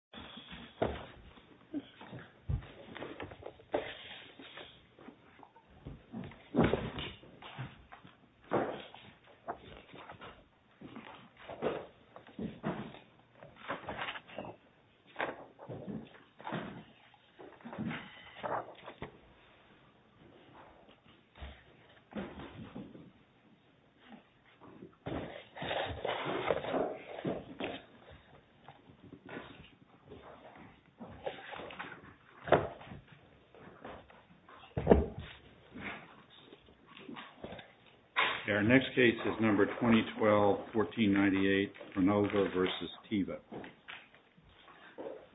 TEVA PHARMA NORGE v. TEVA PHARMA NORGE Our next case is number 2012-1498 PRONOVA v. TEVA.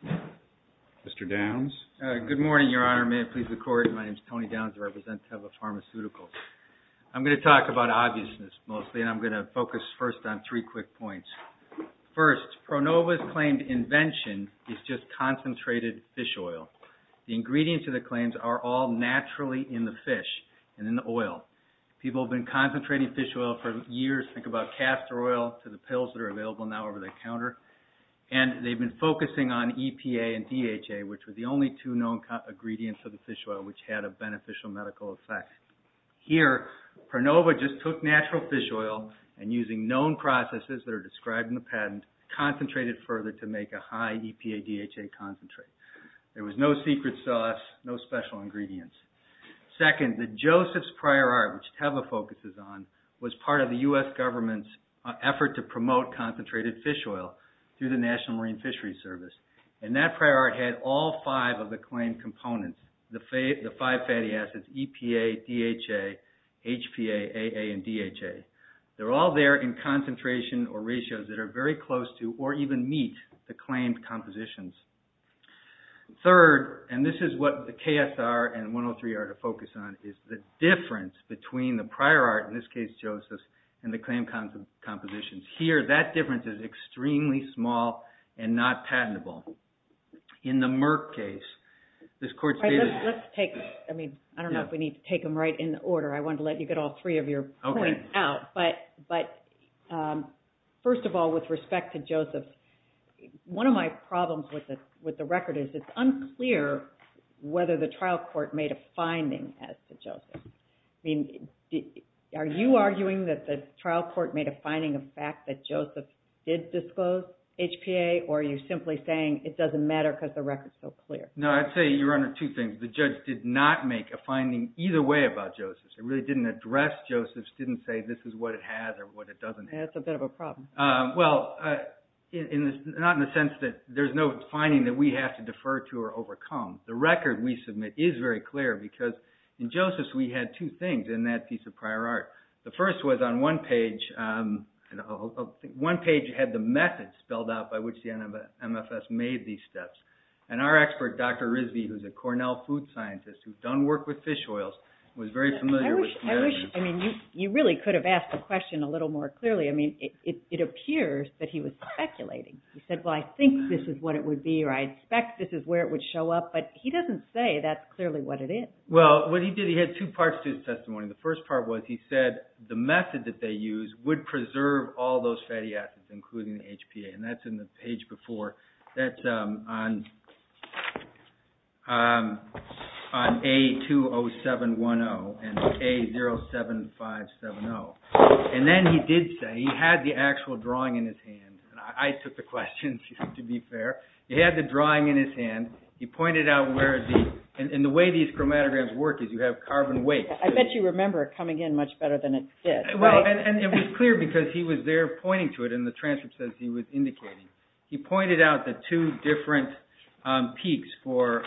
Mr. Downs? Good morning, Your Honor. May it please the Court? My name is Tony Downs. I represent Teva Pharmaceuticals. I'm going to talk about obviousness mostly, and I'm going to focus first on three quick points. First, PRONOVA's claimed invention is just concentrated fish oil. The ingredients of the claims are all naturally in the fish and in the oil. People have been concentrating fish oil for years. Think about castor oil to the pills that are available now over the counter. And they've been focusing on EPA and DHA, which were the only two known ingredients of the fish oil which had a beneficial medical effect. Here, PRONOVA just took natural fish oil, and using known processes that are described in the patent, concentrated further to make a high EPA-DHA concentrate. There was no secret sauce, no special ingredients. Second, the Joseph's Prior Art, which Teva focuses on, was part of the U.S. government's effort to promote concentrated fish oil through the National Marine Fisheries Service. And that prior art had all five of the claimed components, the five fatty acids, EPA, DHA, HPA, AA, and DHA. They're all there in concentration or ratios that are very close to or even meet the claimed compositions. Third, and this is what the KSR and 103 are to focus on, is the difference between the prior art, in this case Joseph's, and the claimed compositions. Here, that difference is extremely small and not patentable. In the Merck case, this court stated... I don't know if we need to take them right in order. I wanted to let you get all three of your points out. First of all, with respect to Joseph's, one of my problems with the record is it's unclear whether the trial court made a finding as to Joseph's. Are you arguing that the trial court made a finding of fact that Joseph's did disclose HPA, or are you simply saying it doesn't matter because the record's so clear? No, I'd say you're under two things. The judge did not make a finding either way about Joseph's. It really didn't address Joseph's, didn't say this is what it has or what it doesn't have. That's a bit of a problem. Well, not in the sense that there's no finding that we have to defer to or overcome. The record we submit is very clear because in Joseph's we had two things in that piece of prior art. The first was on one page, one page had the method spelled out by which the MFS made these steps. And our expert, Dr. Risby, who's a Cornell food scientist who's done work with fish oils, was very familiar with... I wish, I mean, you really could have asked the question a little more clearly. I mean, it appears that he was speculating. He said, well, I think this is what it would be, or I expect this is where it would show up. But he doesn't say that's clearly what it is. Well, what he did, he had two parts to his testimony. The first part was he said the method that they used would preserve all those fatty acids, including the HPA. And that's in the page before. That's on A20710 and A07570. And then he did say he had the actual drawing in his hand. I took the questions, to be fair. He had the drawing in his hand. He pointed out where the... and the way these chromatograms work is you have carbon weights. I bet you remember it coming in much better than it did. Well, and it was clear because he was there pointing to it in the transcripts as he was indicating. He pointed out the two different peaks for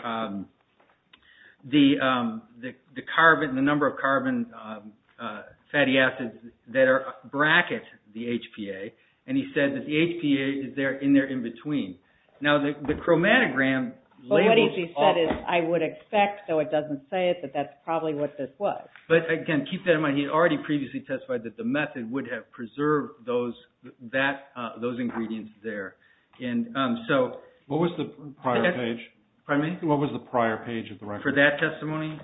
the carbon, the number of carbon fatty acids that bracket the HPA. And he said that the HPA is in there in between. Now, the chromatogram... But what he said is, I would expect, though it doesn't say it, that that's probably what this was. But, again, keep that in mind. He had already previously testified that the method would have preserved those ingredients there. And so... What was the prior page? What was the prior page of the record? For that testimony,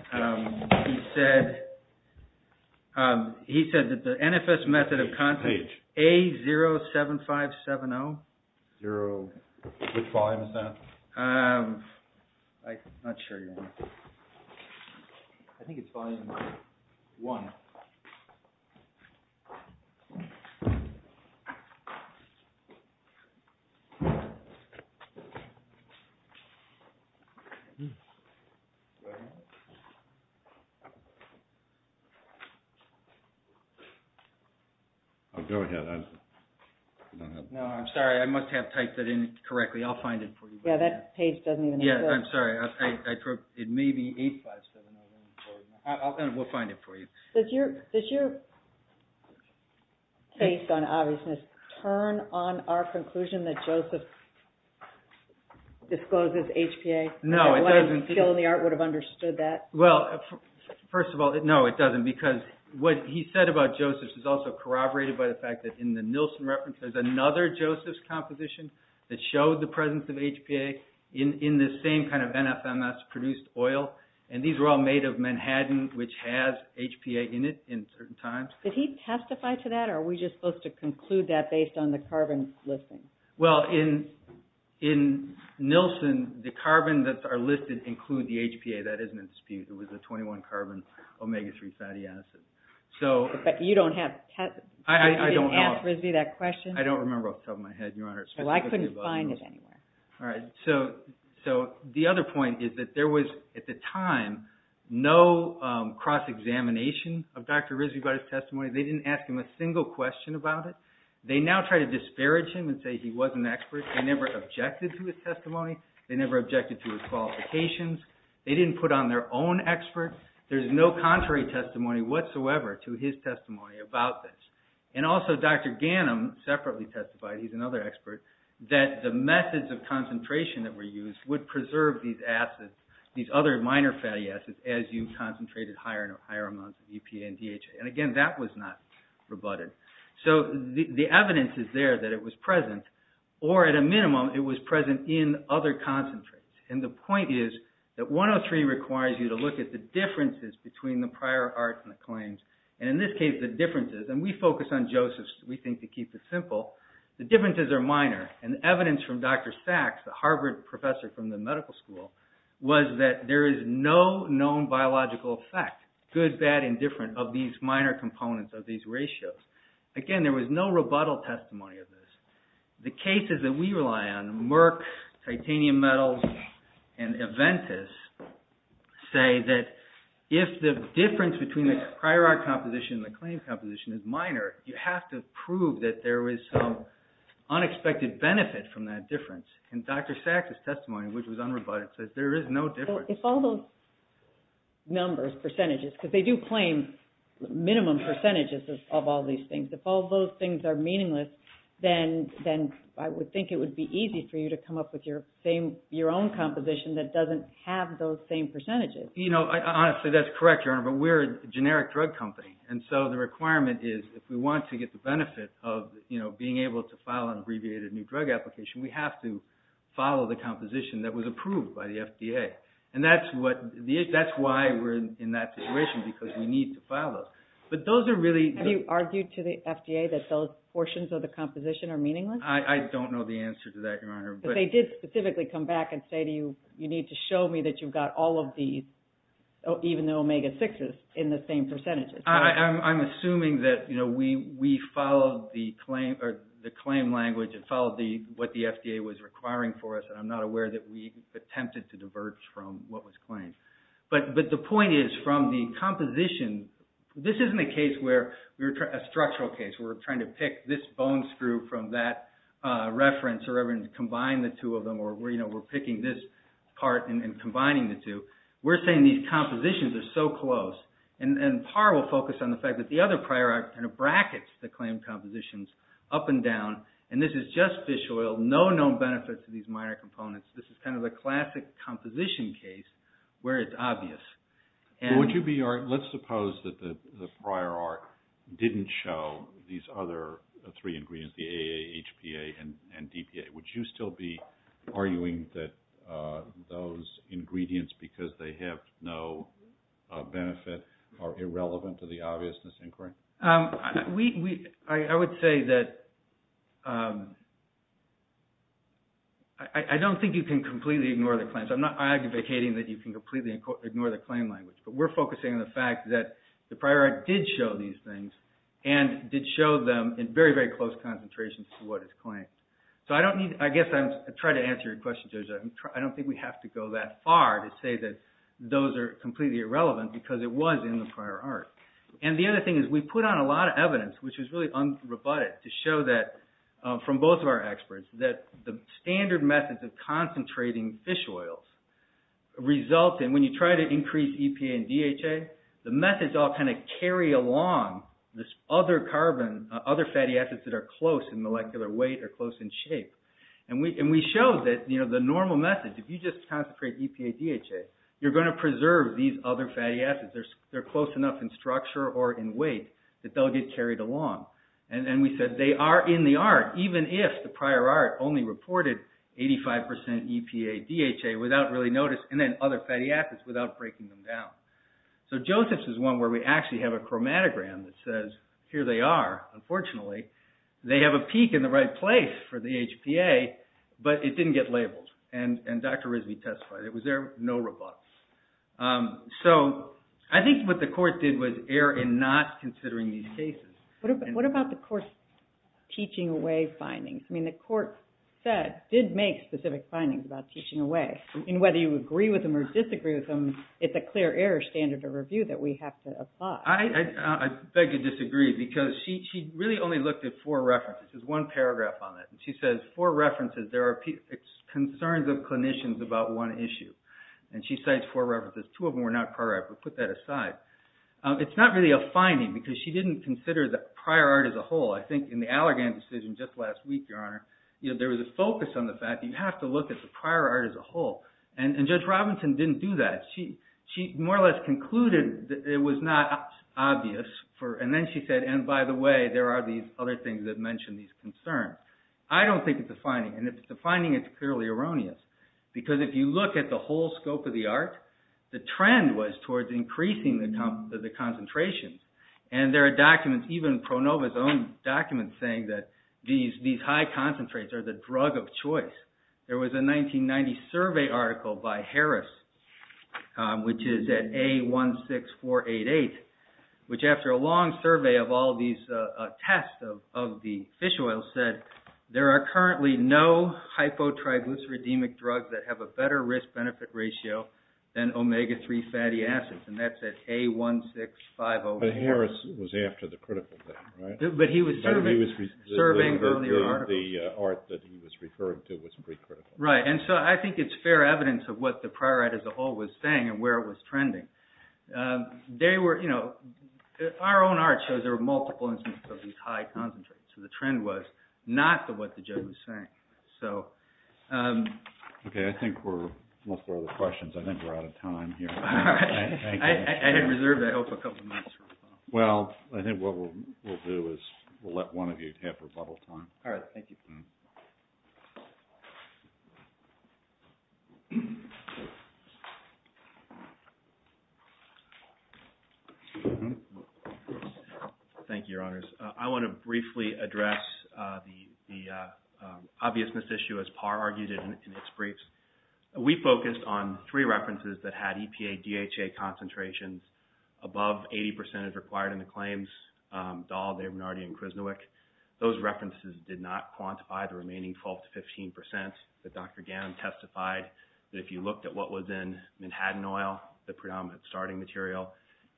he said that the NFS method of content... Page. A-0-7-5-7-0. Zero. Which volume is that? I'm not sure. I think it's volume one. Go ahead. Oh, go ahead. No, I'm sorry. I must have typed it in correctly. I'll find it for you. Yeah, that page doesn't even... Yeah, I'm sorry. It may be A-5-7-0-1-4-0. We'll find it for you. Does your taste on obviousness turn on our conclusion that Joseph discloses HPA? No, it doesn't. Why do you feel in the art would have understood that? Well, first of all, no, it doesn't. Because what he said about Joseph's is also corroborated by the fact that in the Nielsen reference, there's another Joseph's composition that showed the presence of HPA in this same kind of NFMS-produced oil. And these were all made of Manhattan, which has HPA in it in certain times. Did he testify to that, or are we just supposed to conclude that based on the carbon listing? Well, in Nielsen, the carbon that are listed include the HPA. That isn't a dispute. It was a 21-carbon omega-3 fatty acid. But you don't have... I don't know. You didn't ask RISD that question? I don't remember off the top of my head, Your Honor. Well, I couldn't find it anywhere. All right. So the other point is that there was, at the time, no cross-examination of Dr. RISD by his testimony. They didn't ask him a single question about it. They now try to disparage him and say he wasn't an expert. They never objected to his testimony. They never objected to his qualifications. They didn't put on their own expert. There's no contrary testimony whatsoever to his testimony about this. And also, Dr. Ganim separately testified, he's another expert, that the methods of concentration that were used would preserve these acids, these other minor fatty acids, as you concentrated higher amounts of EPA and DHA. And again, that was not rebutted. So the evidence is there that it was present, or at a minimum, it was present in other concentrates. And the point is that 103 requires you to look at the differences between the prior arts and the claims. And in this case, the differences, and we focus on Joseph's, we think, to keep it simple, the differences are minor. And the evidence from Dr. Sachs, the Harvard professor from the medical school, was that there is no known biological effect, good, bad, indifferent, of these minor components of these ratios. Again, there was no rebuttal testimony of this. The cases that we rely on, Merck, titanium metals, and Aventis, say that if the difference between the prior art composition and the claim composition is minor, you have to prove that there was some unexpected benefit from that difference. And Dr. Sachs' testimony, which was unrebutted, says there is no difference. So if all those numbers, percentages, because they do claim minimum percentages of all these things, if all those things are meaningless, then I would think it would be easy for you to come up with your own composition that doesn't have those same percentages. You know, honestly, that's correct, Your Honor, but we're a generic drug company. And so the requirement is if we want to get the benefit of being able to file an abbreviated new drug application, we have to follow the composition that was approved by the FDA. And that's why we're in that situation, because we need to follow. Have you argued to the FDA that those portions of the composition are meaningless? I don't know the answer to that, Your Honor. But they did specifically come back and say to you, you need to show me that you've got all of these, even the omega-6s, in the same percentages. I'm assuming that we followed the claim language and followed what the FDA was requiring for us, and I'm not aware that we attempted to diverge from what was claimed. But the point is, from the composition, this isn't a structural case. We're trying to pick this bone screw from that reference or combine the two of them, or we're picking this part and combining the two. We're saying these compositions are so close. And Parr will focus on the fact that the other prior arc kind of brackets the claimed compositions up and down, and this is just fish oil, no known benefits to these minor components. This is kind of the classic composition case where it's obvious. Let's suppose that the prior arc didn't show these other three ingredients, the AA, HPA, and DPA. Would you still be arguing that those ingredients, because they have no benefit, are irrelevant to the obviousness inquiry? I would say that I don't think you can completely ignore the claims. I'm not advocating that you can completely ignore the claim language, but we're focusing on the fact that the prior arc did show these things and did show them in very, very close concentrations to what is claimed. I guess I'm trying to answer your question, Joseph. I don't think we have to go that far to say that those are completely irrelevant because it was in the prior arc. And the other thing is we put on a lot of evidence, which was really unrebutted, to show that, from both of our experts, that the standard methods of concentrating fish oils result in, when you try to increase EPA and DHA, the methods all kind of carry along this other carbon, other fatty acids that are close in molecular weight or close in shape. And we showed that the normal method, if you just concentrate EPA, DHA, you're going to preserve these other fatty acids. They're close enough in structure or in weight that they'll get carried along. And we said they are in the arc, even if the prior arc only reported 85% EPA, DHA, without really noticing, and then other fatty acids without breaking them down. So Joseph's is one where we actually have a chromatogram that says, here they are, unfortunately. They have a peak in the right place for the HPA, but it didn't get labeled. And Dr. Rizvi testified it was there, no rebuts. So I think what the court did was err in not considering these cases. What about the court's teaching away findings? I mean, the court said, did make specific findings about teaching away. And whether you agree with them or disagree with them, it's a clear error standard of review that we have to apply. I beg to disagree, because she really only looked at four references. There's one paragraph on that. And she says, four references, there are concerns of clinicians about one issue. And she cites four references. Two of them were not prior art, but put that aside. It's not really a finding, because she didn't consider the prior art as a whole. I think in the Allergan decision just last week, Your Honor, there was a focus on the fact that you have to look at the prior art as a whole. And Judge Robinson didn't do that. She more or less concluded that it was not obvious. And then she said, and by the way, there are these other things that mention these concerns. I don't think it's a finding. And if it's a finding, it's clearly erroneous. Because if you look at the whole scope of the art, the trend was towards increasing the concentrations. And there are documents, even ProNova's own documents, saying that these high concentrates are the drug of choice. There was a 1990 survey article by Harris, which is at A16488, which after a long survey of all these tests of the fish oil, said there are currently no hypotriglyceridemic drugs that have a better risk-benefit ratio than omega-3 fatty acids. And that's at A16504. But Harris was after the critical thing, right? But he was surveying only the article. The art that he was referring to was pre-critical. Right, and so I think it's fair evidence of what the prior art as a whole was saying and where it was trending. They were, you know, our own art shows there were multiple instances of these high concentrates. So the trend was not to what the judge was saying. Okay, I think we're almost out of questions. I think we're out of time here. I had reserved, I hope, a couple of minutes. Well, I think what we'll do is we'll let one of you have rebuttal time. All right, thank you. Thank you, Your Honors. I want to briefly address the obviousness issue, as Parr argued in its briefs. We focused on three references that had EPA DHA concentrations above 80% as required in the claims, Dahl, Abernardy, and Krisnewick. Those references did not quantify the remaining 12 to 15%. But Dr. Gannon testified that if you looked at what was in Manhattan oil, the predominant starting material,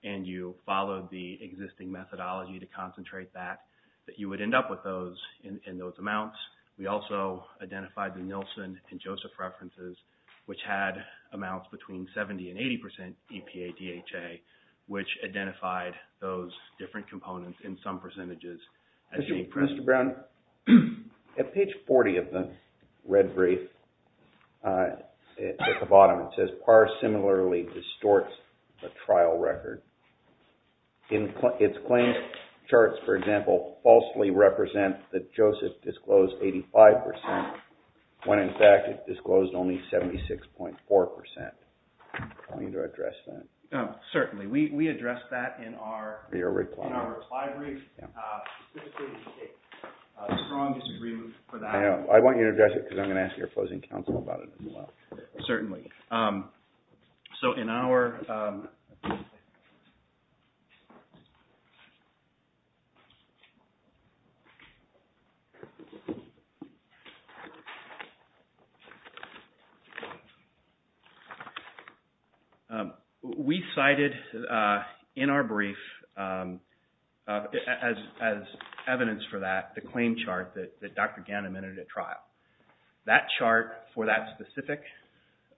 and you followed the existing methodology to concentrate that, that you would end up with those in those amounts. We also identified the Nielsen and Joseph references, which had amounts between 70% and 80% EPA DHA, which identified those different components in some percentages. Mr. Brown, at page 40 of the red brief, at the bottom, it says, Parr similarly distorts the trial record. Its claims charts, for example, falsely represent that Joseph disclosed 85%, when in fact it disclosed only 76.4%. I want you to address that. Certainly. We addressed that in our reply brief. This is a strong disagreement for that. I want you to address it because I'm going to ask your closing counsel about it as well. Certainly. So in our... We cited in our brief, as evidence for that, the claim chart that Dr. Gannon entered at trial. That chart, for that specific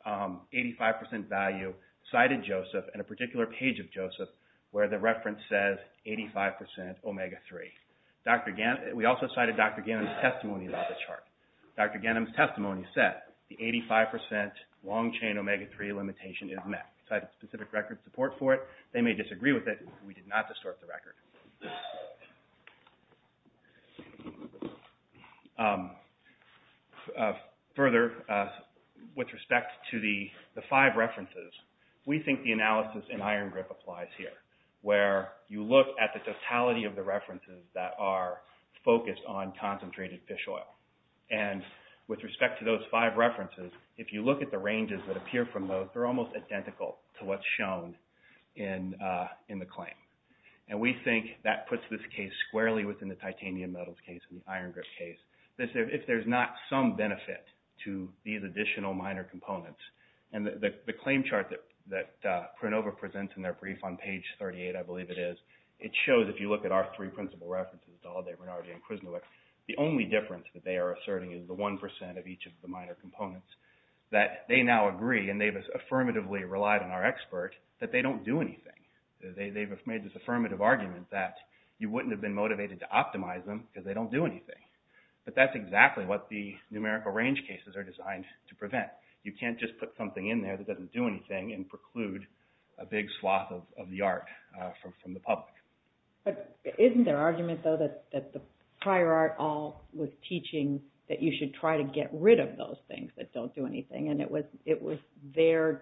85% value, cited Joseph and a particular page of Joseph where the reference says 85% omega-3. We also cited Dr. Gannon's testimony about the chart. Dr. Gannon's testimony said the 85% long-chain omega-3 limitation is met. Cited specific record support for it. They may disagree with it. We did not distort the record. Further, with respect to the five references, we think the analysis in Iron Grip applies here, where you look at the totality of the references that are focused on concentrated fish oil. With respect to those five references, if you look at the ranges that appear from those, they're almost identical to what's shown in the claim. We think that puts this case squarely within the titanium metals case and the Iron Grip case. If there's not some benefit to these additional minor components, and the claim chart that Pranova presents in their brief on page 38, I believe it is, it shows, if you look at our three principal references, Dalde, Renardi, and Krismulic, the only difference that they are asserting is the 1% of each of the minor components, that they now agree, and they've affirmatively relied on our expert, that they don't do anything. They've made this affirmative argument that you wouldn't have been motivated to optimize them because they don't do anything. But that's exactly what the numerical range cases are designed to prevent. You can't just put something in there that doesn't do anything and preclude a big sloth of the art from the public. But isn't their argument, though, that the prior art all was teaching that you should try to get rid of those things that don't do anything, and it was their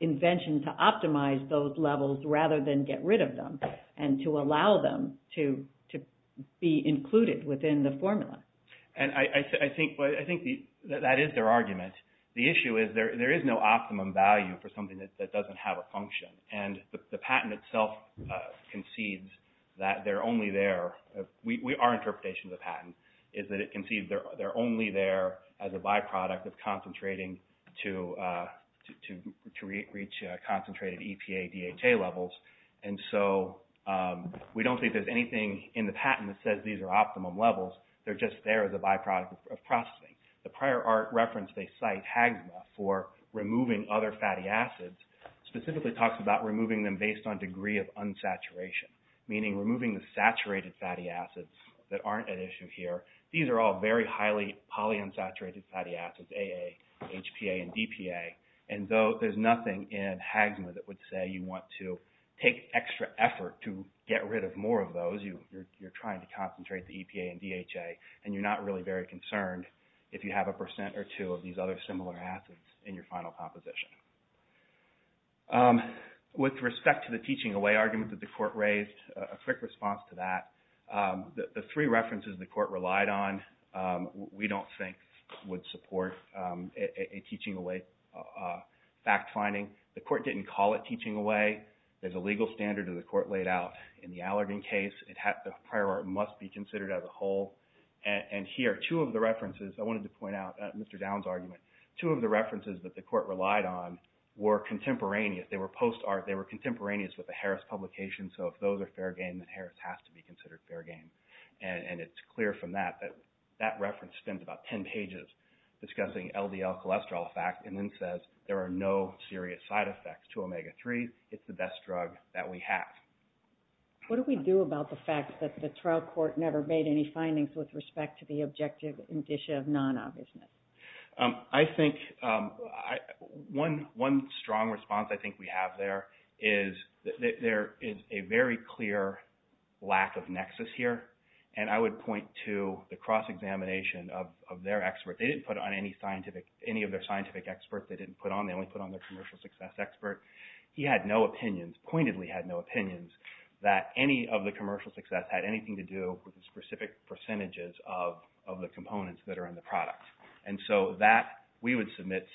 invention to optimize those levels rather than get rid of them, and to allow them to be included within the formula? I think that is their argument. The issue is there is no optimum value for something that doesn't have a function, and the patent itself concedes that they're only there. Our interpretation of the patent is that it concedes they're only there as a byproduct of concentrating to reach concentrated EPA, DHA levels. And so we don't think there's anything in the patent that says these are optimum levels. They're just there as a byproduct of processing. The prior art reference they cite HAGSMA for removing other fatty acids specifically talks about removing them based on degree of unsaturation, meaning removing the saturated fatty acids that aren't an issue here. These are all very highly polyunsaturated fatty acids, AA, HPA, and DPA. And though there's nothing in HAGSMA that would say you want to take extra effort to get rid of more of those, you're trying to concentrate the EPA and DHA, and you're not really very concerned if you have a percent or two of these other similar acids in your final composition. With respect to the teaching away argument that the court raised, a quick response to that. The three references the court relied on we don't think would support a teaching away fact finding. The court didn't call it teaching away. There's a legal standard that the court laid out in the Allergan case. The prior art must be considered as a whole. And here, two of the references I wanted to point out, Mr. Downs' argument, two of the references that the court relied on were contemporaneous. They were post art. They were contemporaneous with the Harris publication. So if those are fair game, then Harris has to be considered fair game. And it's clear from that that that reference spends about 10 pages discussing LDL cholesterol fact and then says there are no serious side effects to omega-3. It's the best drug that we have. What do we do about the fact that the trial court never made any findings with respect to the objective indicia of non-obviousness? I think one strong response I think we have there is there is a very clear lack of nexus here. And I would point to the cross-examination of their expert. They didn't put on any of their scientific experts. They didn't put on. They only put on their commercial success expert. He had no opinions, pointedly had no opinions that any of the commercial success had anything to do with the specific percentages of the components that are in the product. And so that we would submit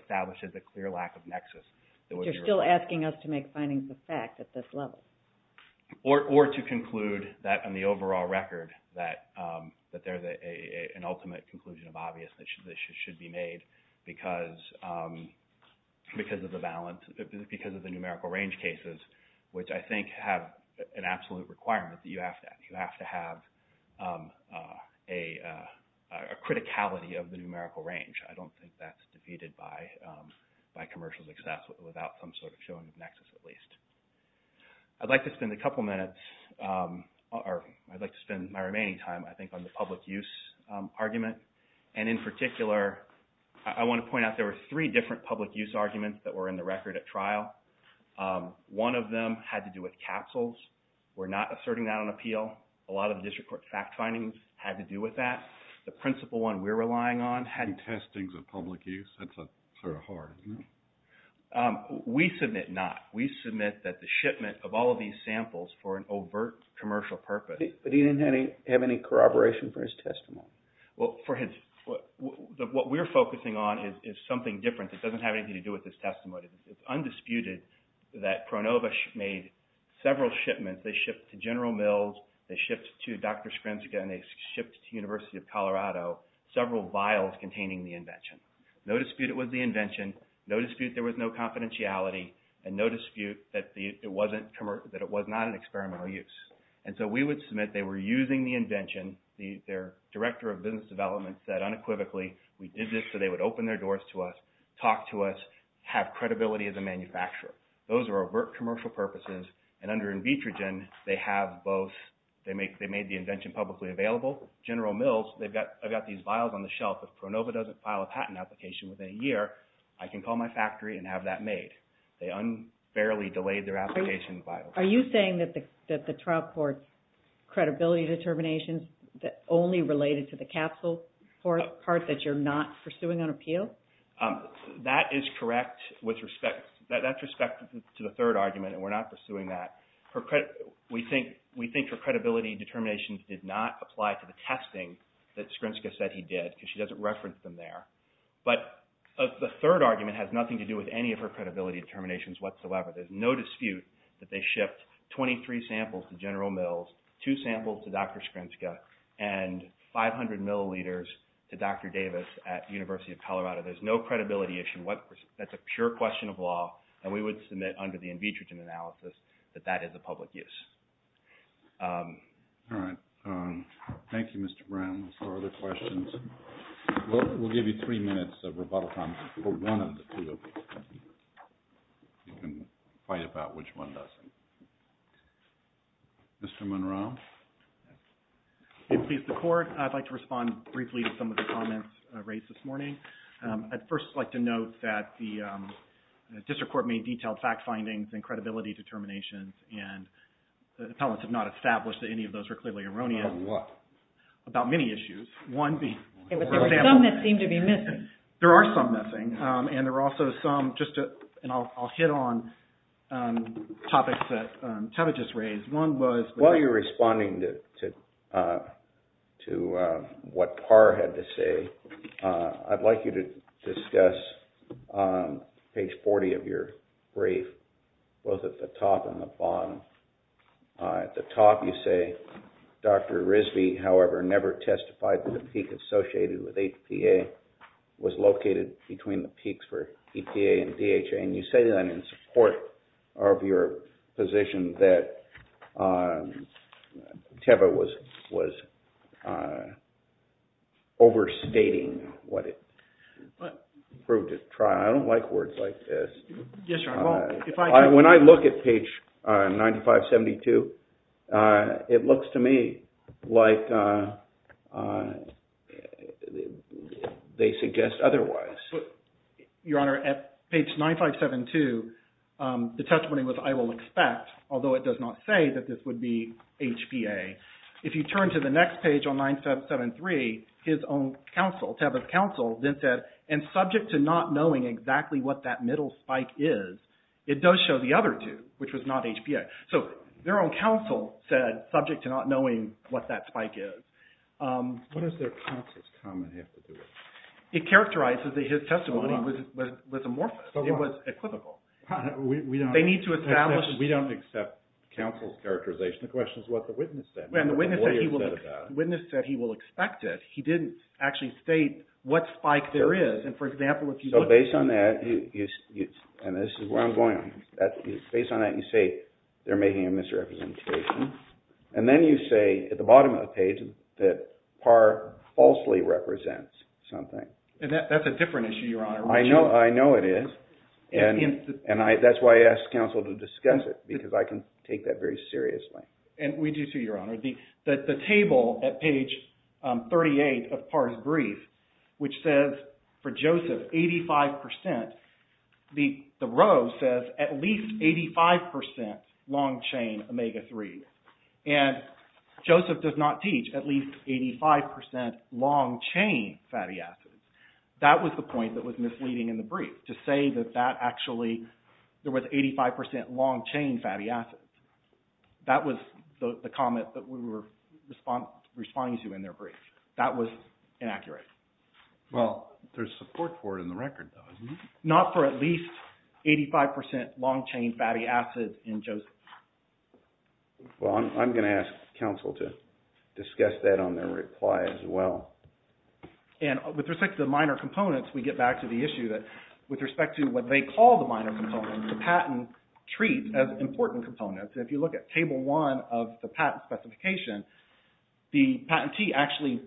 establishes a clear lack of nexus. You're still asking us to make findings of fact at this level. Or to conclude that on the overall record that there is an ultimate conclusion of obviousness that should be made because of the balance, because of the numerical range cases, which I think have an absolute requirement that you have to have a criticality of the numerical range. I don't think that's defeated by commercial success without some sort of showing of nexus at least. I'd like to spend a couple minutes or I'd like to spend my remaining time I think on the public use argument. And in particular, I want to point out there were three different public use arguments that were in the record at trial. One of them had to do with capsules. We're not asserting that on appeal. A lot of the district court fact findings had to do with that. The principal one we're relying on had to do with testing of public use. That's sort of hard. We submit not. We submit that the shipment of all of these samples for an overt commercial purpose. But he didn't have any corroboration for his testimony. Well, what we're focusing on is something different. It doesn't have anything to do with his testimony. It's undisputed that ProNova made several shipments. They shipped to General Mills. They shipped to Dr. Skrincic. And they shipped to University of Colorado. Several vials containing the invention. No dispute it was the invention. No dispute there was no confidentiality. And no dispute that it was not an experimental use. And so we would submit they were using the invention. Their director of business development said unequivocally, we did this so they would open their doors to us, talk to us, have credibility as a manufacturer. Those were overt commercial purposes. And under Invitrogen, they made the invention publicly available. General Mills, I've got these vials on the shelf. If ProNova doesn't file a patent application within a year, I can call my factory and have that made. They unfairly delayed their application vials. Are you saying that the trial court's credibility determinations only related to the capsule part that you're not pursuing on appeal? That is correct with respect to the third argument. And we're not pursuing that. We think her credibility determinations did not apply to the testing that Skrinska said he did because she doesn't reference them there. But the third argument has nothing to do with any of her credibility determinations whatsoever. There's no dispute that they shipped 23 samples to General Mills, two samples to Dr. Skrinska, and 500 milliliters to Dr. Davis at University of Colorado. There's no credibility issue. That's a pure question of law. And we would submit under the in vitro analysis that that is a public use. All right. Thank you, Mr. Brown. Are there questions? We'll give you three minutes of rebuttal time for one of the two. You can fight about which one doesn't. Mr. Monroe? If it pleases the court, I'd like to respond briefly to some of the comments raised this morning. I'd first like to note that the district court made detailed fact findings and credibility determinations, and the appellants have not established that any of those are clearly erroneous. About what? About many issues. Some that seem to be missing. There are some missing. And there are also some, just to, and I'll hit on topics that Tavit just raised. While you're responding to what Parr had to say, I'd like you to discuss page 40 of your brief, both at the top and the bottom. At the top you say, Dr. Risby, however, never testified that the peak associated with APA was located between the peaks for EPA and DHA. And you say that in support of your position that TEVA was overstating what it proved at trial. I don't like words like this. Yes, Your Honor. When I look at page 9572, it looks to me like they suggest otherwise. Your Honor, at page 9572, the testimony was, I will expect, although it does not say that this would be HPA, if you turn to the next page on 9573, his own counsel, Tavit's counsel, then said, and subject to not knowing exactly what that middle spike is, it does show the other two, which was not HPA. So their own counsel said, subject to not knowing what that spike is. What does their counsel's comment have to do with it? It characterizes that his testimony was amorphous. It was equivocal. They need to establish. We don't accept counsel's characterization. The question is what the witness said. The witness said he will expect it. He didn't actually state what spike there is. And for example, if you look. So based on that, and this is where I'm going, based on that, you say they're making a misrepresentation. And then you say at the bottom of the page that PAR falsely represents something. That's a different issue, Your Honor. I know it is. And that's why I asked counsel to discuss it, because I can take that very seriously. And we do too, Your Honor. The table at page 38 of PAR's brief, which says for Joseph, 85%, the row says at least 85% long-chain omega-3. And Joseph does not teach at least 85% long-chain fatty acids. That was the point that was misleading in the brief, to say that that actually, there was 85% long-chain fatty acids. That was the comment that we were responding to in their brief. That was inaccurate. Well, there's support for it in the record though, isn't there? Not for at least 85% long-chain fatty acids in Joseph. Well, I'm going to ask counsel to discuss that on their reply as well. And with respect to the minor components, we get back to the issue that, with respect to what they call the minor components, the patent treats as important components. And if you look at table one of the patent specification, the patentee actually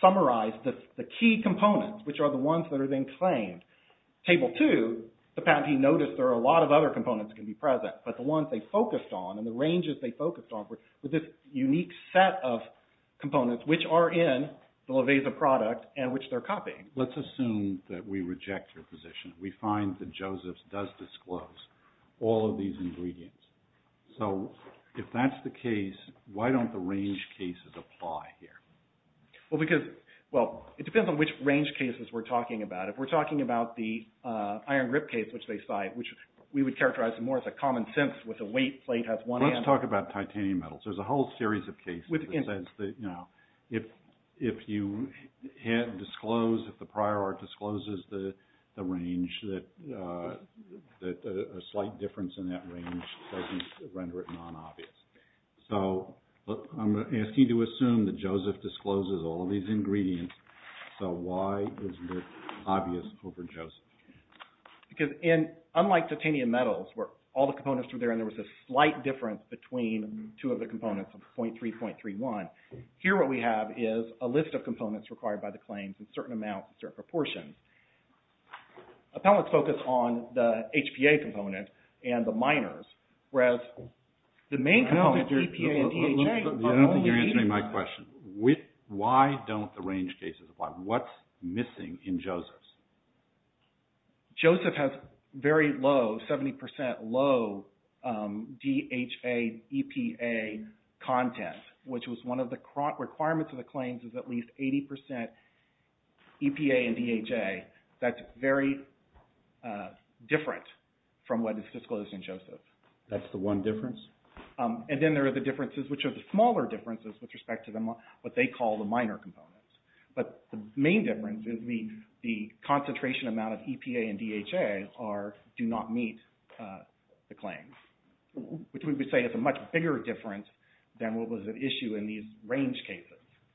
summarized the key components, which are the ones that are then claimed. Table two, the patentee noticed there are a lot of other components that can be present, but the ones they focused on and the ranges they focused on were this unique set of components, which are in the Lovesa product and which they're copying. Let's assume that we reject your position. We find that Joseph's does disclose all of these ingredients. So if that's the case, why don't the range cases apply here? Well, it depends on which range cases we're talking about. If we're talking about the iron grip case, which they cite, which we would characterize more as a common sense with the weight plate has one end. Let's talk about titanium metals. There's a whole series of cases that says that, you know, if you disclose, if the prior art discloses the range, that a slight difference in that range doesn't render it non-obvious. So I'm asking you to assume that Joseph discloses all of these ingredients. So why is it obvious over Joseph? Because unlike titanium metals, where all the components were there and there was a slight difference between two of the components of 0.3, 0.31, here what we have is a list of components required by the claims in certain amounts and certain proportions. Appellants focus on the HPA component and the minors, whereas the main components are EPA and DHA. I don't think you're answering my question. Why don't the range cases apply? What's missing in Joseph's? Joseph has very low, 70% low DHA EPA content, which was one of the requirements of the claims, is at least 80% EPA and DHA. That's very different from what is disclosed in Joseph. That's the one difference? And then there are the differences, which are the smaller differences with respect to what they call the minor components. But the main difference is the concentration amount of EPA and DHA do not meet the claims, which we would say is a much bigger difference than what was at issue in these range cases.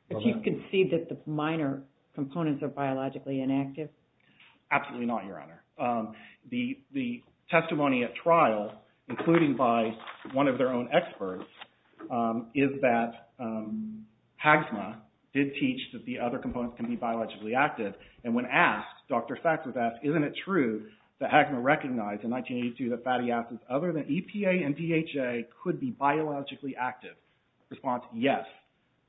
But you can see that the minor components are biologically inactive? Absolutely not, Your Honor. The testimony at trial, including by one of their own experts, is that HAGMA did teach that the other components can be biologically active. And when asked, Dr. Sacks was asked, isn't it true that HAGMA recognized in 1982 that fatty acids other than EPA and DHA could be biologically active? Response, yes.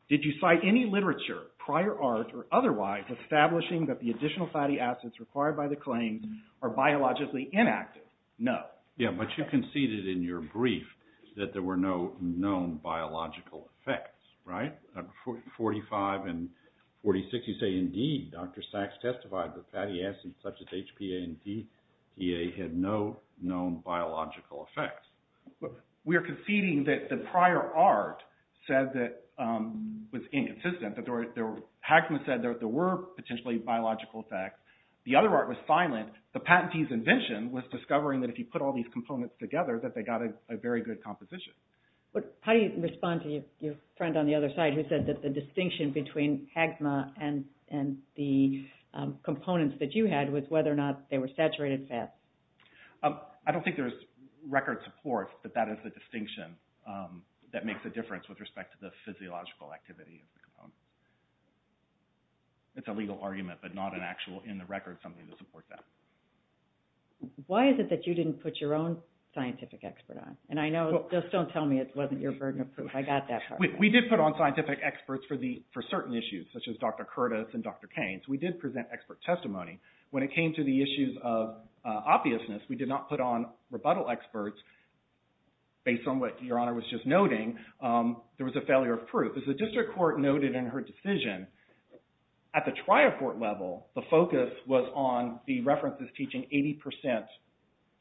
Did you cite any literature, prior art, or otherwise, establishing that the additional fatty acids required by the claims are biologically inactive? No. Yeah, but you conceded in your brief that there were no known biological effects, right? 45 and 46, you say, indeed, Dr. Sacks testified that fatty acids such as HPA and DHA had no known biological effects. We are conceding that the prior art said that it was inconsistent. HAGMA said there were potentially biological effects. The other art was silent. The patentee's invention was discovering that if you put all these components together that they got a very good composition. But how do you respond to your friend on the other side who said that the distinction between HAGMA and the components that you had was whether or not they were saturated fats? I don't think there's record support that that is the distinction that makes a difference with respect to the physiological activity of the components. It's a legal argument, but not an actual, in the record, something to support that. Why is it that you didn't put your own scientific expert on? And I know, just don't tell me it wasn't your burden of proof. I got that part. We did put on scientific experts for certain issues, such as Dr. Curtis and Dr. Keynes. We did present expert testimony. When it came to the issues of obviousness, we did not put on rebuttal experts based on what Your Honor was just noting. There was a failure of proof. As the district court noted in her decision, at the trial court level, the focus was on the references teaching 80%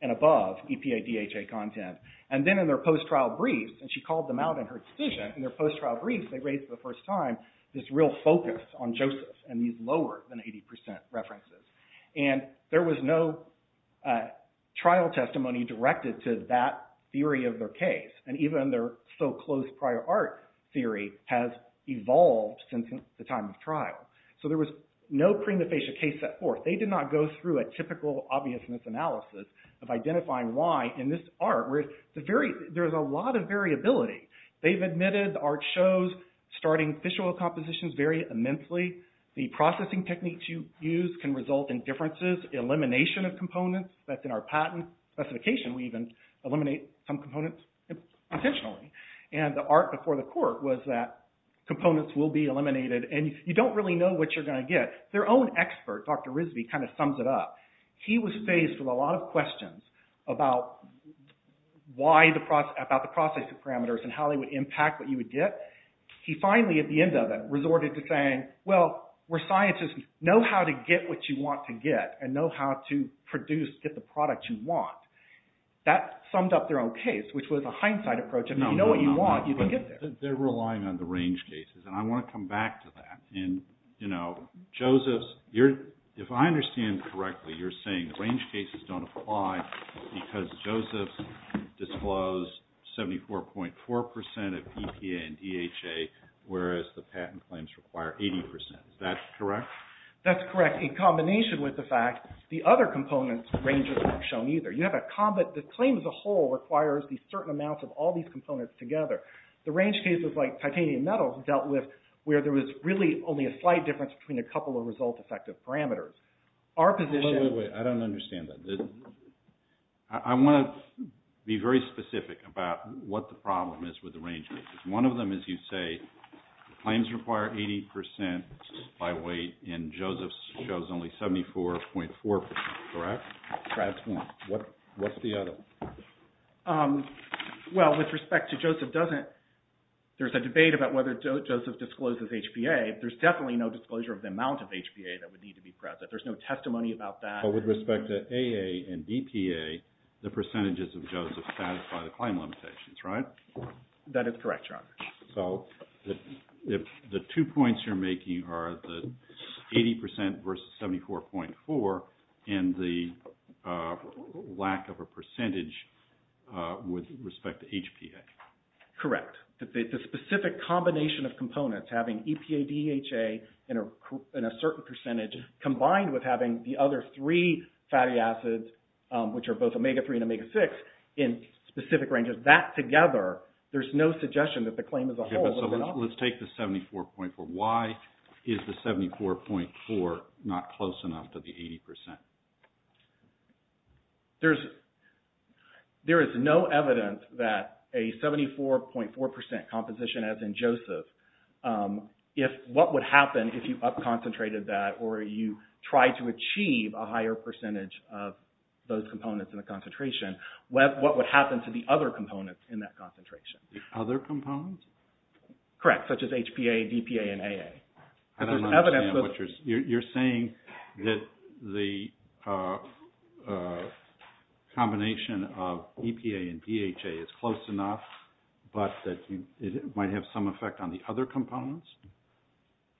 and above EPA DHA content. And then in their post-trial briefs, and she called them out in her decision, in their post-trial briefs they raised for the first time this real focus on Joseph and these lower than 80% references. And there was no trial testimony directed to that theory of their case. And even their so-close prior art theory has evolved since the time of trial. So there was no prima facie case set forth. They did not go through a typical obviousness analysis of identifying why in this art, where there's a lot of variability. They've admitted the art shows starting visual compositions vary immensely. The processing techniques you use can result in differences, elimination of components. That's in our patent specification. We even eliminate some components intentionally. And the art before the court was that components will be eliminated and you don't really know what you're going to get. Their own expert, Dr. Risby, kind of sums it up. He was faced with a lot of questions about the processing parameters and how they would impact what you would get. He finally, at the end of it, resorted to saying, well, we're scientists, know how to get what you want to get and know how to produce, get the product you want. That summed up their own case, which was a hindsight approach. If you know what you want, you can get there. They're relying on the range cases, and I want to come back to that. Joseph, if I understand correctly, you're saying the range cases don't apply because Joseph disclosed 74.4% of EPA and DHA, whereas the patent claims require 80%. Is that correct? That's correct. In combination with the fact the other components ranges aren't shown either. The claim as a whole requires these certain amounts of all these components together. The range cases like titanium metals dealt with where there was really only a slight difference between a couple of result-effective parameters. Wait, wait, wait, I don't understand that. I want to be very specific about what the problem is with the range cases. One of them is you say the claims require 80% by weight, and Joseph shows only 74.4%, correct? That's one. What's the other? Well, with respect to Joseph, there's a debate about whether Joseph discloses HPA. There's definitely no disclosure of the amount of HPA that would need to be present. There's no testimony about that. With respect to AA and EPA, the percentages of Joseph satisfy the claim limitations, right? That is correct, Your Honor. The two points you're making are the 80% versus 74.4% and the lack of a percentage with respect to HPA. Correct. The specific combination of components, having EPA, DHA, and a certain percentage combined with having the other three fatty acids, which are both omega-3 and omega-6 in specific ranges, that together, there's no suggestion that the claim as a whole would be off. Let's take the 74.4. Why is the 74.4 not close enough to the 80%? There is no evidence that a 74.4% composition, as in Joseph, what would happen if you up-concentrated that or you tried to achieve a higher percentage of those components in the concentration, what would happen to the other components in that concentration? The other components? Correct, such as HPA, DPA, and AA. I don't understand what you're saying. You're saying that the combination of EPA and DHA is close enough, but that it might have some effect on the other components?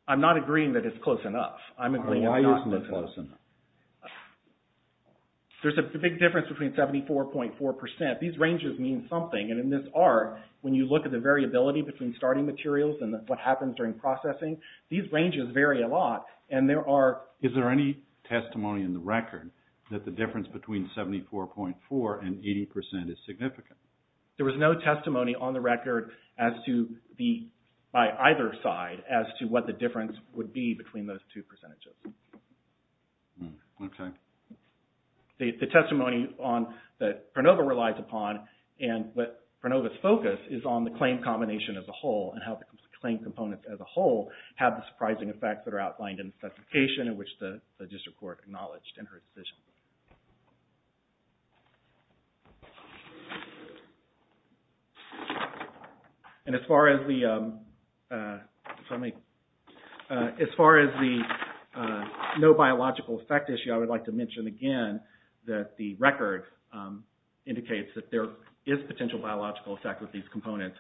I'm not agreeing that it's close enough. Why isn't it close enough? There's a big difference between 74.4%. These ranges mean something, and in this art, when you look at the variability between starting materials and what happens during processing, these ranges vary a lot. Is there any testimony in the record that the difference between 74.4% and 80% is significant? There was no testimony on the record by either side as to what the difference would be between those two percentages. Okay. The testimony that Pernova relies upon, and what Pernova's focus is on the claim combination as a whole and how the claim components as a whole have the surprising effects that are outlined in the specification in which the district court acknowledged in her decision. As far as the no biological effect issue, I would like to mention again that the record indicates that there is potential biological effect with these components.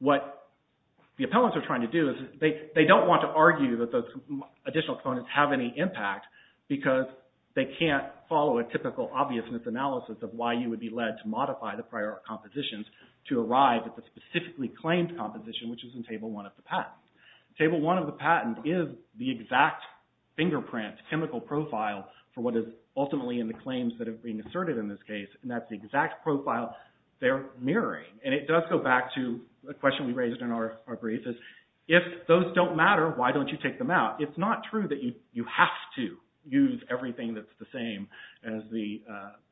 What the appellants are trying to do is, they don't want to argue that those additional components have any impact, because they can't follow a typical obviousness analysis of why you would be led to modify the prior compositions to arrive at the specifically claimed composition, which is in Table 1 of the patent. Table 1 of the patent is the exact fingerprint chemical profile for what is ultimately in the claims that are being asserted in this case, and that's the exact profile they're mirroring. It does go back to the question we raised in our brief. If those don't matter, why don't you take them out? It's not true that you have to use everything that's the same as the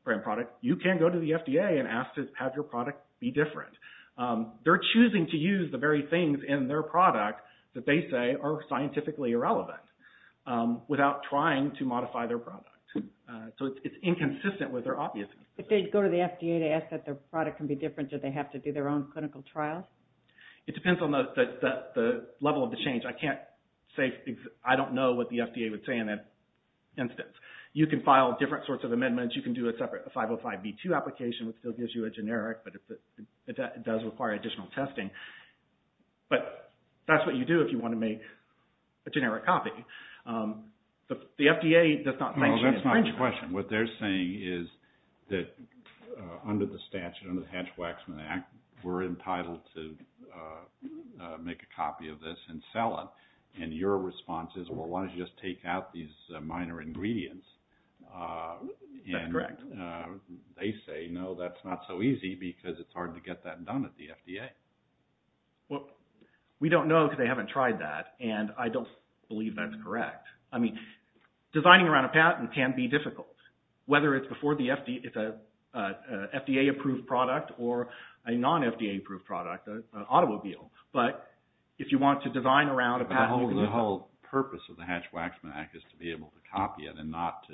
brand product. You can go to the FDA and ask to have your product be different. They're choosing to use the very things in their product that they say are scientifically irrelevant, without trying to modify their product. So it's inconsistent with their obviousness. If they go to the FDA to ask that their product can be different, do they have to do their own clinical trials? It depends on the level of the change. I don't know what the FDA would say in that instance. You can file different sorts of amendments. You can do a separate 505B2 application, which still gives you a generic, but it does require additional testing. But that's what you do if you want to make a generic copy. The FDA does not sanction any infringement. Well, that's not the question. What they're saying is that under the statute, under the Hatch-Waxman Act, we're entitled to make a copy of this and sell it. And your response is, well, why don't you just take out these minor ingredients? That's correct. They say, no, that's not so easy because it's hard to get that done at the FDA. Well, we don't know because they haven't tried that. And I don't believe that's correct. I mean, designing around a patent can be difficult. Whether it's a FDA-approved product or a non-FDA-approved product, an automobile. But if you want to design around a patent... The whole purpose of the Hatch-Waxman Act is to be able to copy it and not to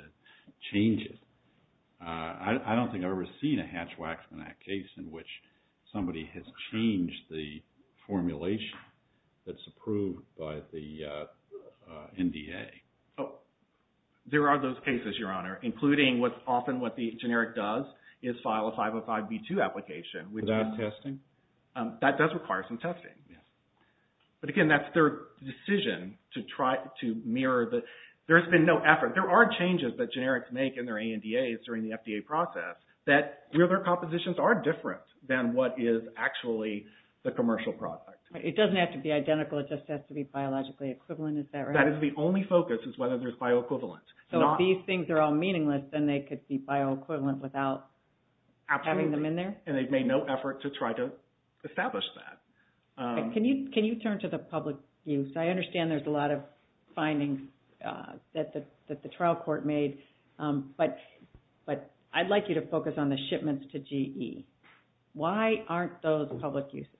change it. I don't think I've ever seen a Hatch-Waxman Act case in which somebody has changed the formulation that's approved by the NDA. There are those cases, Your Honor, including often what the generic does is file a 505B2 application. Is that testing? That does require some testing. But again, that's their decision to try to mirror the... There's been no effort. There are changes that generics make in their ANDAs during the FDA process that their compositions are different than what is actually the commercial product. It doesn't have to be identical. It just has to be biologically equivalent, is that right? That is the only focus, is whether there's bioequivalence. So if these things are all meaningless, then they could be bioequivalent without having them in there? Absolutely. And they've made no effort to try to establish that. Can you turn to the public use? I understand there's a lot of findings that the trial court made. But I'd like you to focus on the shipments to GE. Why aren't those public uses?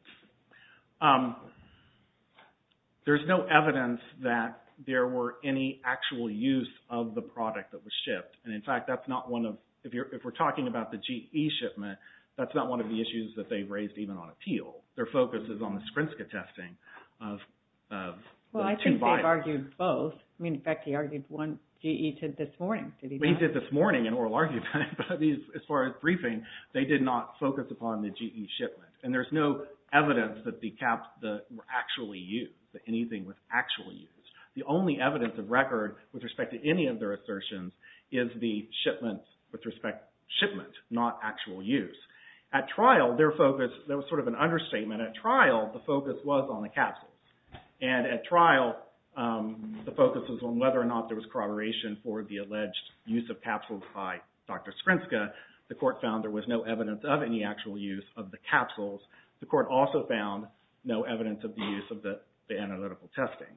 There's no evidence that there were any actual use of the product that was shipped. And in fact, that's not one of... If we're talking about the GE shipment, that's not one of the issues that they raised even on appeal. Their focus is on the Skrinska testing of two vials. Well, I think they've argued both. I mean, in fact, he argued one GE tint this morning. He did this morning in oral argument. But as far as briefing, they did not focus upon the GE shipment. And there's no evidence that the caps were actually used, that anything was actually used. The only evidence of record with respect to any of their assertions is the shipment, with respect to shipment, not actual use. At trial, there was sort of an understatement. At trial, the focus was on the capsules. And at trial, the focus was on whether or not there was corroboration for the alleged use of capsules by Dr. Skrinska. The court found there was no evidence of any actual use of the capsules. The court also found no evidence of the use of the analytical testing.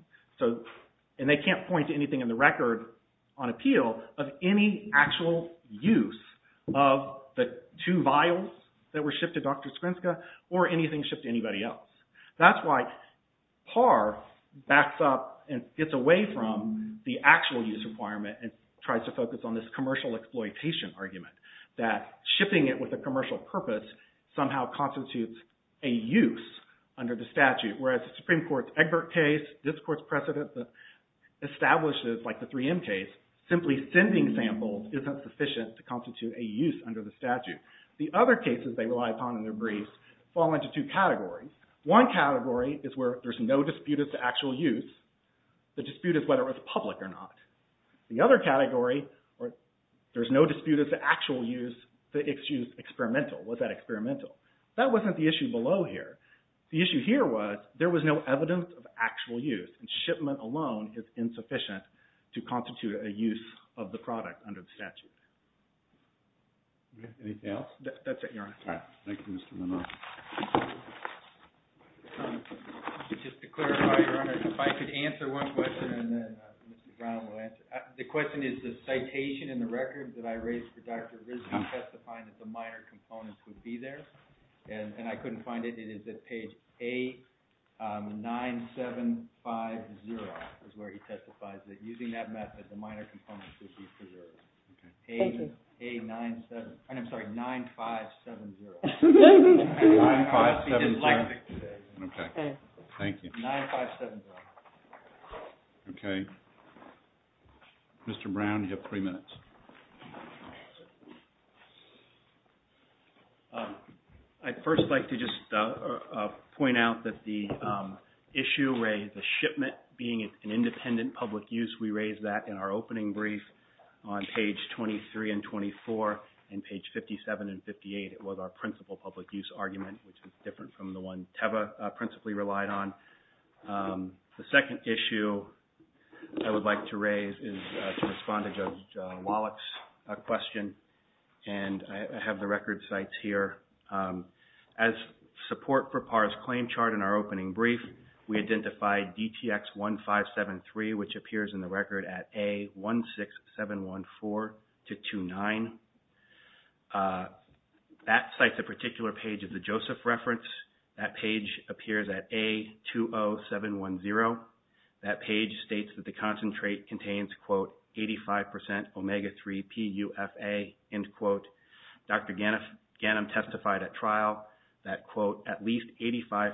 And they can't point to anything in the record on appeal of any actual use of the two vials that were shipped to Dr. Skrinska or anything shipped to anybody else. That's why Parr backs up and gets away from the actual use requirement and tries to focus on this commercial exploitation argument that shipping it with a commercial purpose somehow constitutes a use under the statute. Whereas the Supreme Court's Egbert case, this court's precedent establishes, like the 3M case, simply sending samples isn't sufficient to constitute a use under the statute. The other cases they rely upon in their briefs fall into two categories. One category is where there's no dispute as to actual use. The dispute is whether it was public or not. The other category, there's no dispute as to actual use, the issue is experimental. Was that experimental? That wasn't the issue below here. The issue here was there was no evidence of actual use and shipment alone is insufficient to constitute a use of the product under the statute. Anything else? That's it, Your Honor. Thank you, Mr. Monroe. Just to clarify, Your Honor, if I could answer one question and then Mr. Brown will answer it. The question is the citation in the records that I raised for Dr. Rizvi testifying that the minor components would be there and I couldn't find it. It is at page A9750 is where he testifies that using that method the minor components would be preserved. Page A97... I'm sorry, 9570. 9570. Okay. Thank you. Okay. Mr. Brown, you have three minutes. I'd first like to just point out that the issue where the shipment being an independent public use, we raised that in our opening brief on page 23 and 24 and page 57 and 58. It was our principal public use argument, which was different from the one TEVA principally relied on. The second issue I would like to raise is to respond to Judge Wallach's question and I have the record sites here. As support for PAR's claim chart in our opening brief, we identified DTX 1573, which appears in the record at A16714-29. That cites a particular page of the Joseph reference. That page appears at A20710. That page states that the concentrate contains 85% omega-3 PUFA. Dr. Ganim testified at trial that at least 85%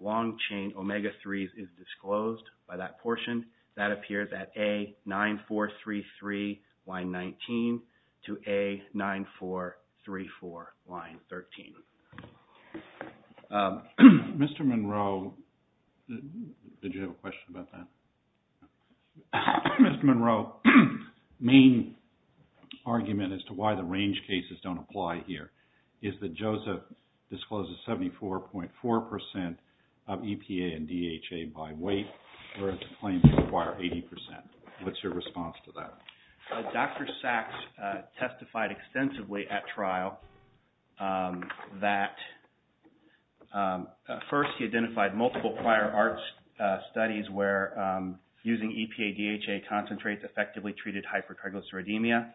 long-chain omega-3s is disclosed by that portion. That appears at A9433 line 19 to A9434 line 13. Mr. Monroe, did you have a question about that? Mr. Monroe, main argument as to why the range cases don't apply here is that Joseph discloses 74.4% of EPA and DHA by weight whereas the claims require 80%. What's your response to that? Dr. Sachs testified extensively at trial that first he identified multiple prior ART studies where using EPA-DHA concentrates effectively treated hypertriglyceridemia.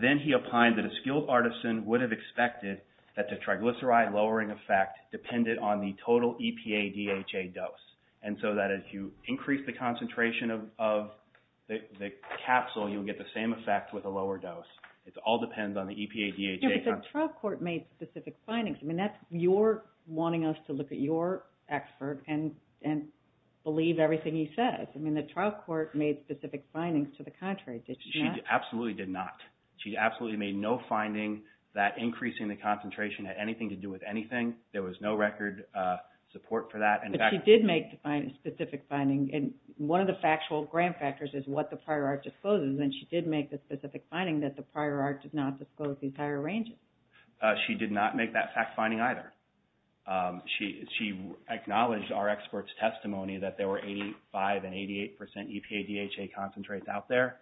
Then he opined that a skilled artisan would have expected that the triglyceride lowering effect depended on the total EPA-DHA dose. As you increase the concentration of the capsule you'll get the same effect with a lower dose. It all depends on the EPA-DHA concentration. But the trial court made specific findings. You're wanting us to look at your expert The trial court made specific findings to the contrary. She absolutely did not. She absolutely made no finding that increasing the concentration had anything to do with anything. There was no record support for that. But she did make specific findings. One of the factual grand factors is what the prior ART discloses. She did make the specific finding that the prior ART did not disclose the entire range. She did not make that fact finding either. She acknowledged our expert's testimony that there were 85 and 88% EPA-DHA concentrates out there.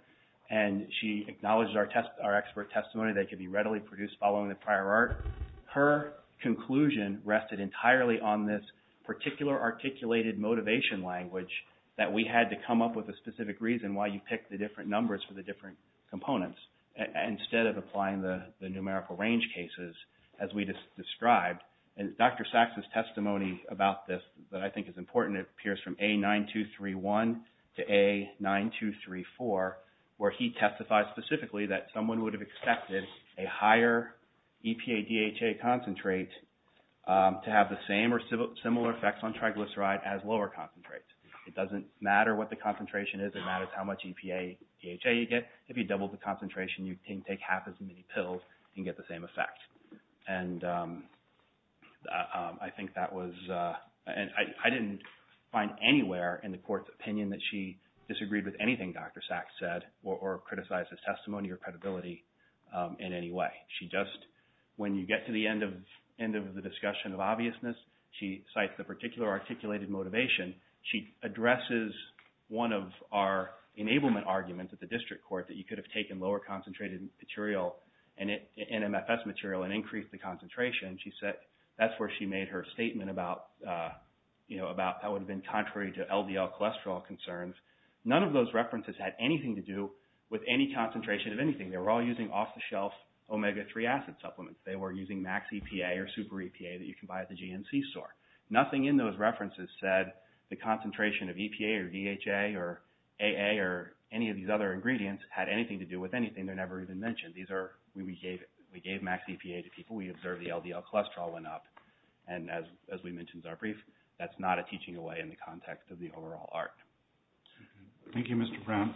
She acknowledged our expert's testimony that it could be readily produced following the prior ART. Her conclusion rested entirely on this particular articulated motivation language that we had to come up with a specific reason why you picked the different numbers for the different components instead of applying the numerical range cases as we described. Dr. Sachs' testimony about this that I think is important appears from A9231 to A9234 where he testified specifically that someone would have expected a higher EPA-DHA concentrate to have the same or similar effects on triglyceride as lower concentrates. It doesn't matter what the concentration is. It matters how much EPA-DHA you get. If you double the concentration, you can take half as many pills and get the same effect. I didn't find anywhere in the court's opinion that she disagreed with anything Dr. Sachs said or criticized his testimony or credibility in any way. When you get to the end of the discussion of obviousness, she cites the particular articulated motivation. She addresses one of our enablement arguments at the district court that you could have taken lower concentrated NMFS material and increased the concentration. She said that's where she made her statement about how it would have been contrary to LDL cholesterol concerns. None of those references had anything to do with any concentration of anything. They were all using off-the-shelf omega-3 acid supplements. They were using max EPA or super EPA that you can buy at the GNC store. Nothing in those references said the concentration of EPA or DHA or AA or any of these other ingredients had anything to do with anything. They're never even mentioned. We gave max EPA to people. We observed the LDL cholesterol went up. As we mentioned in our brief, that's not a teaching away in the context of the overall art. Thank you, Mr. Brown.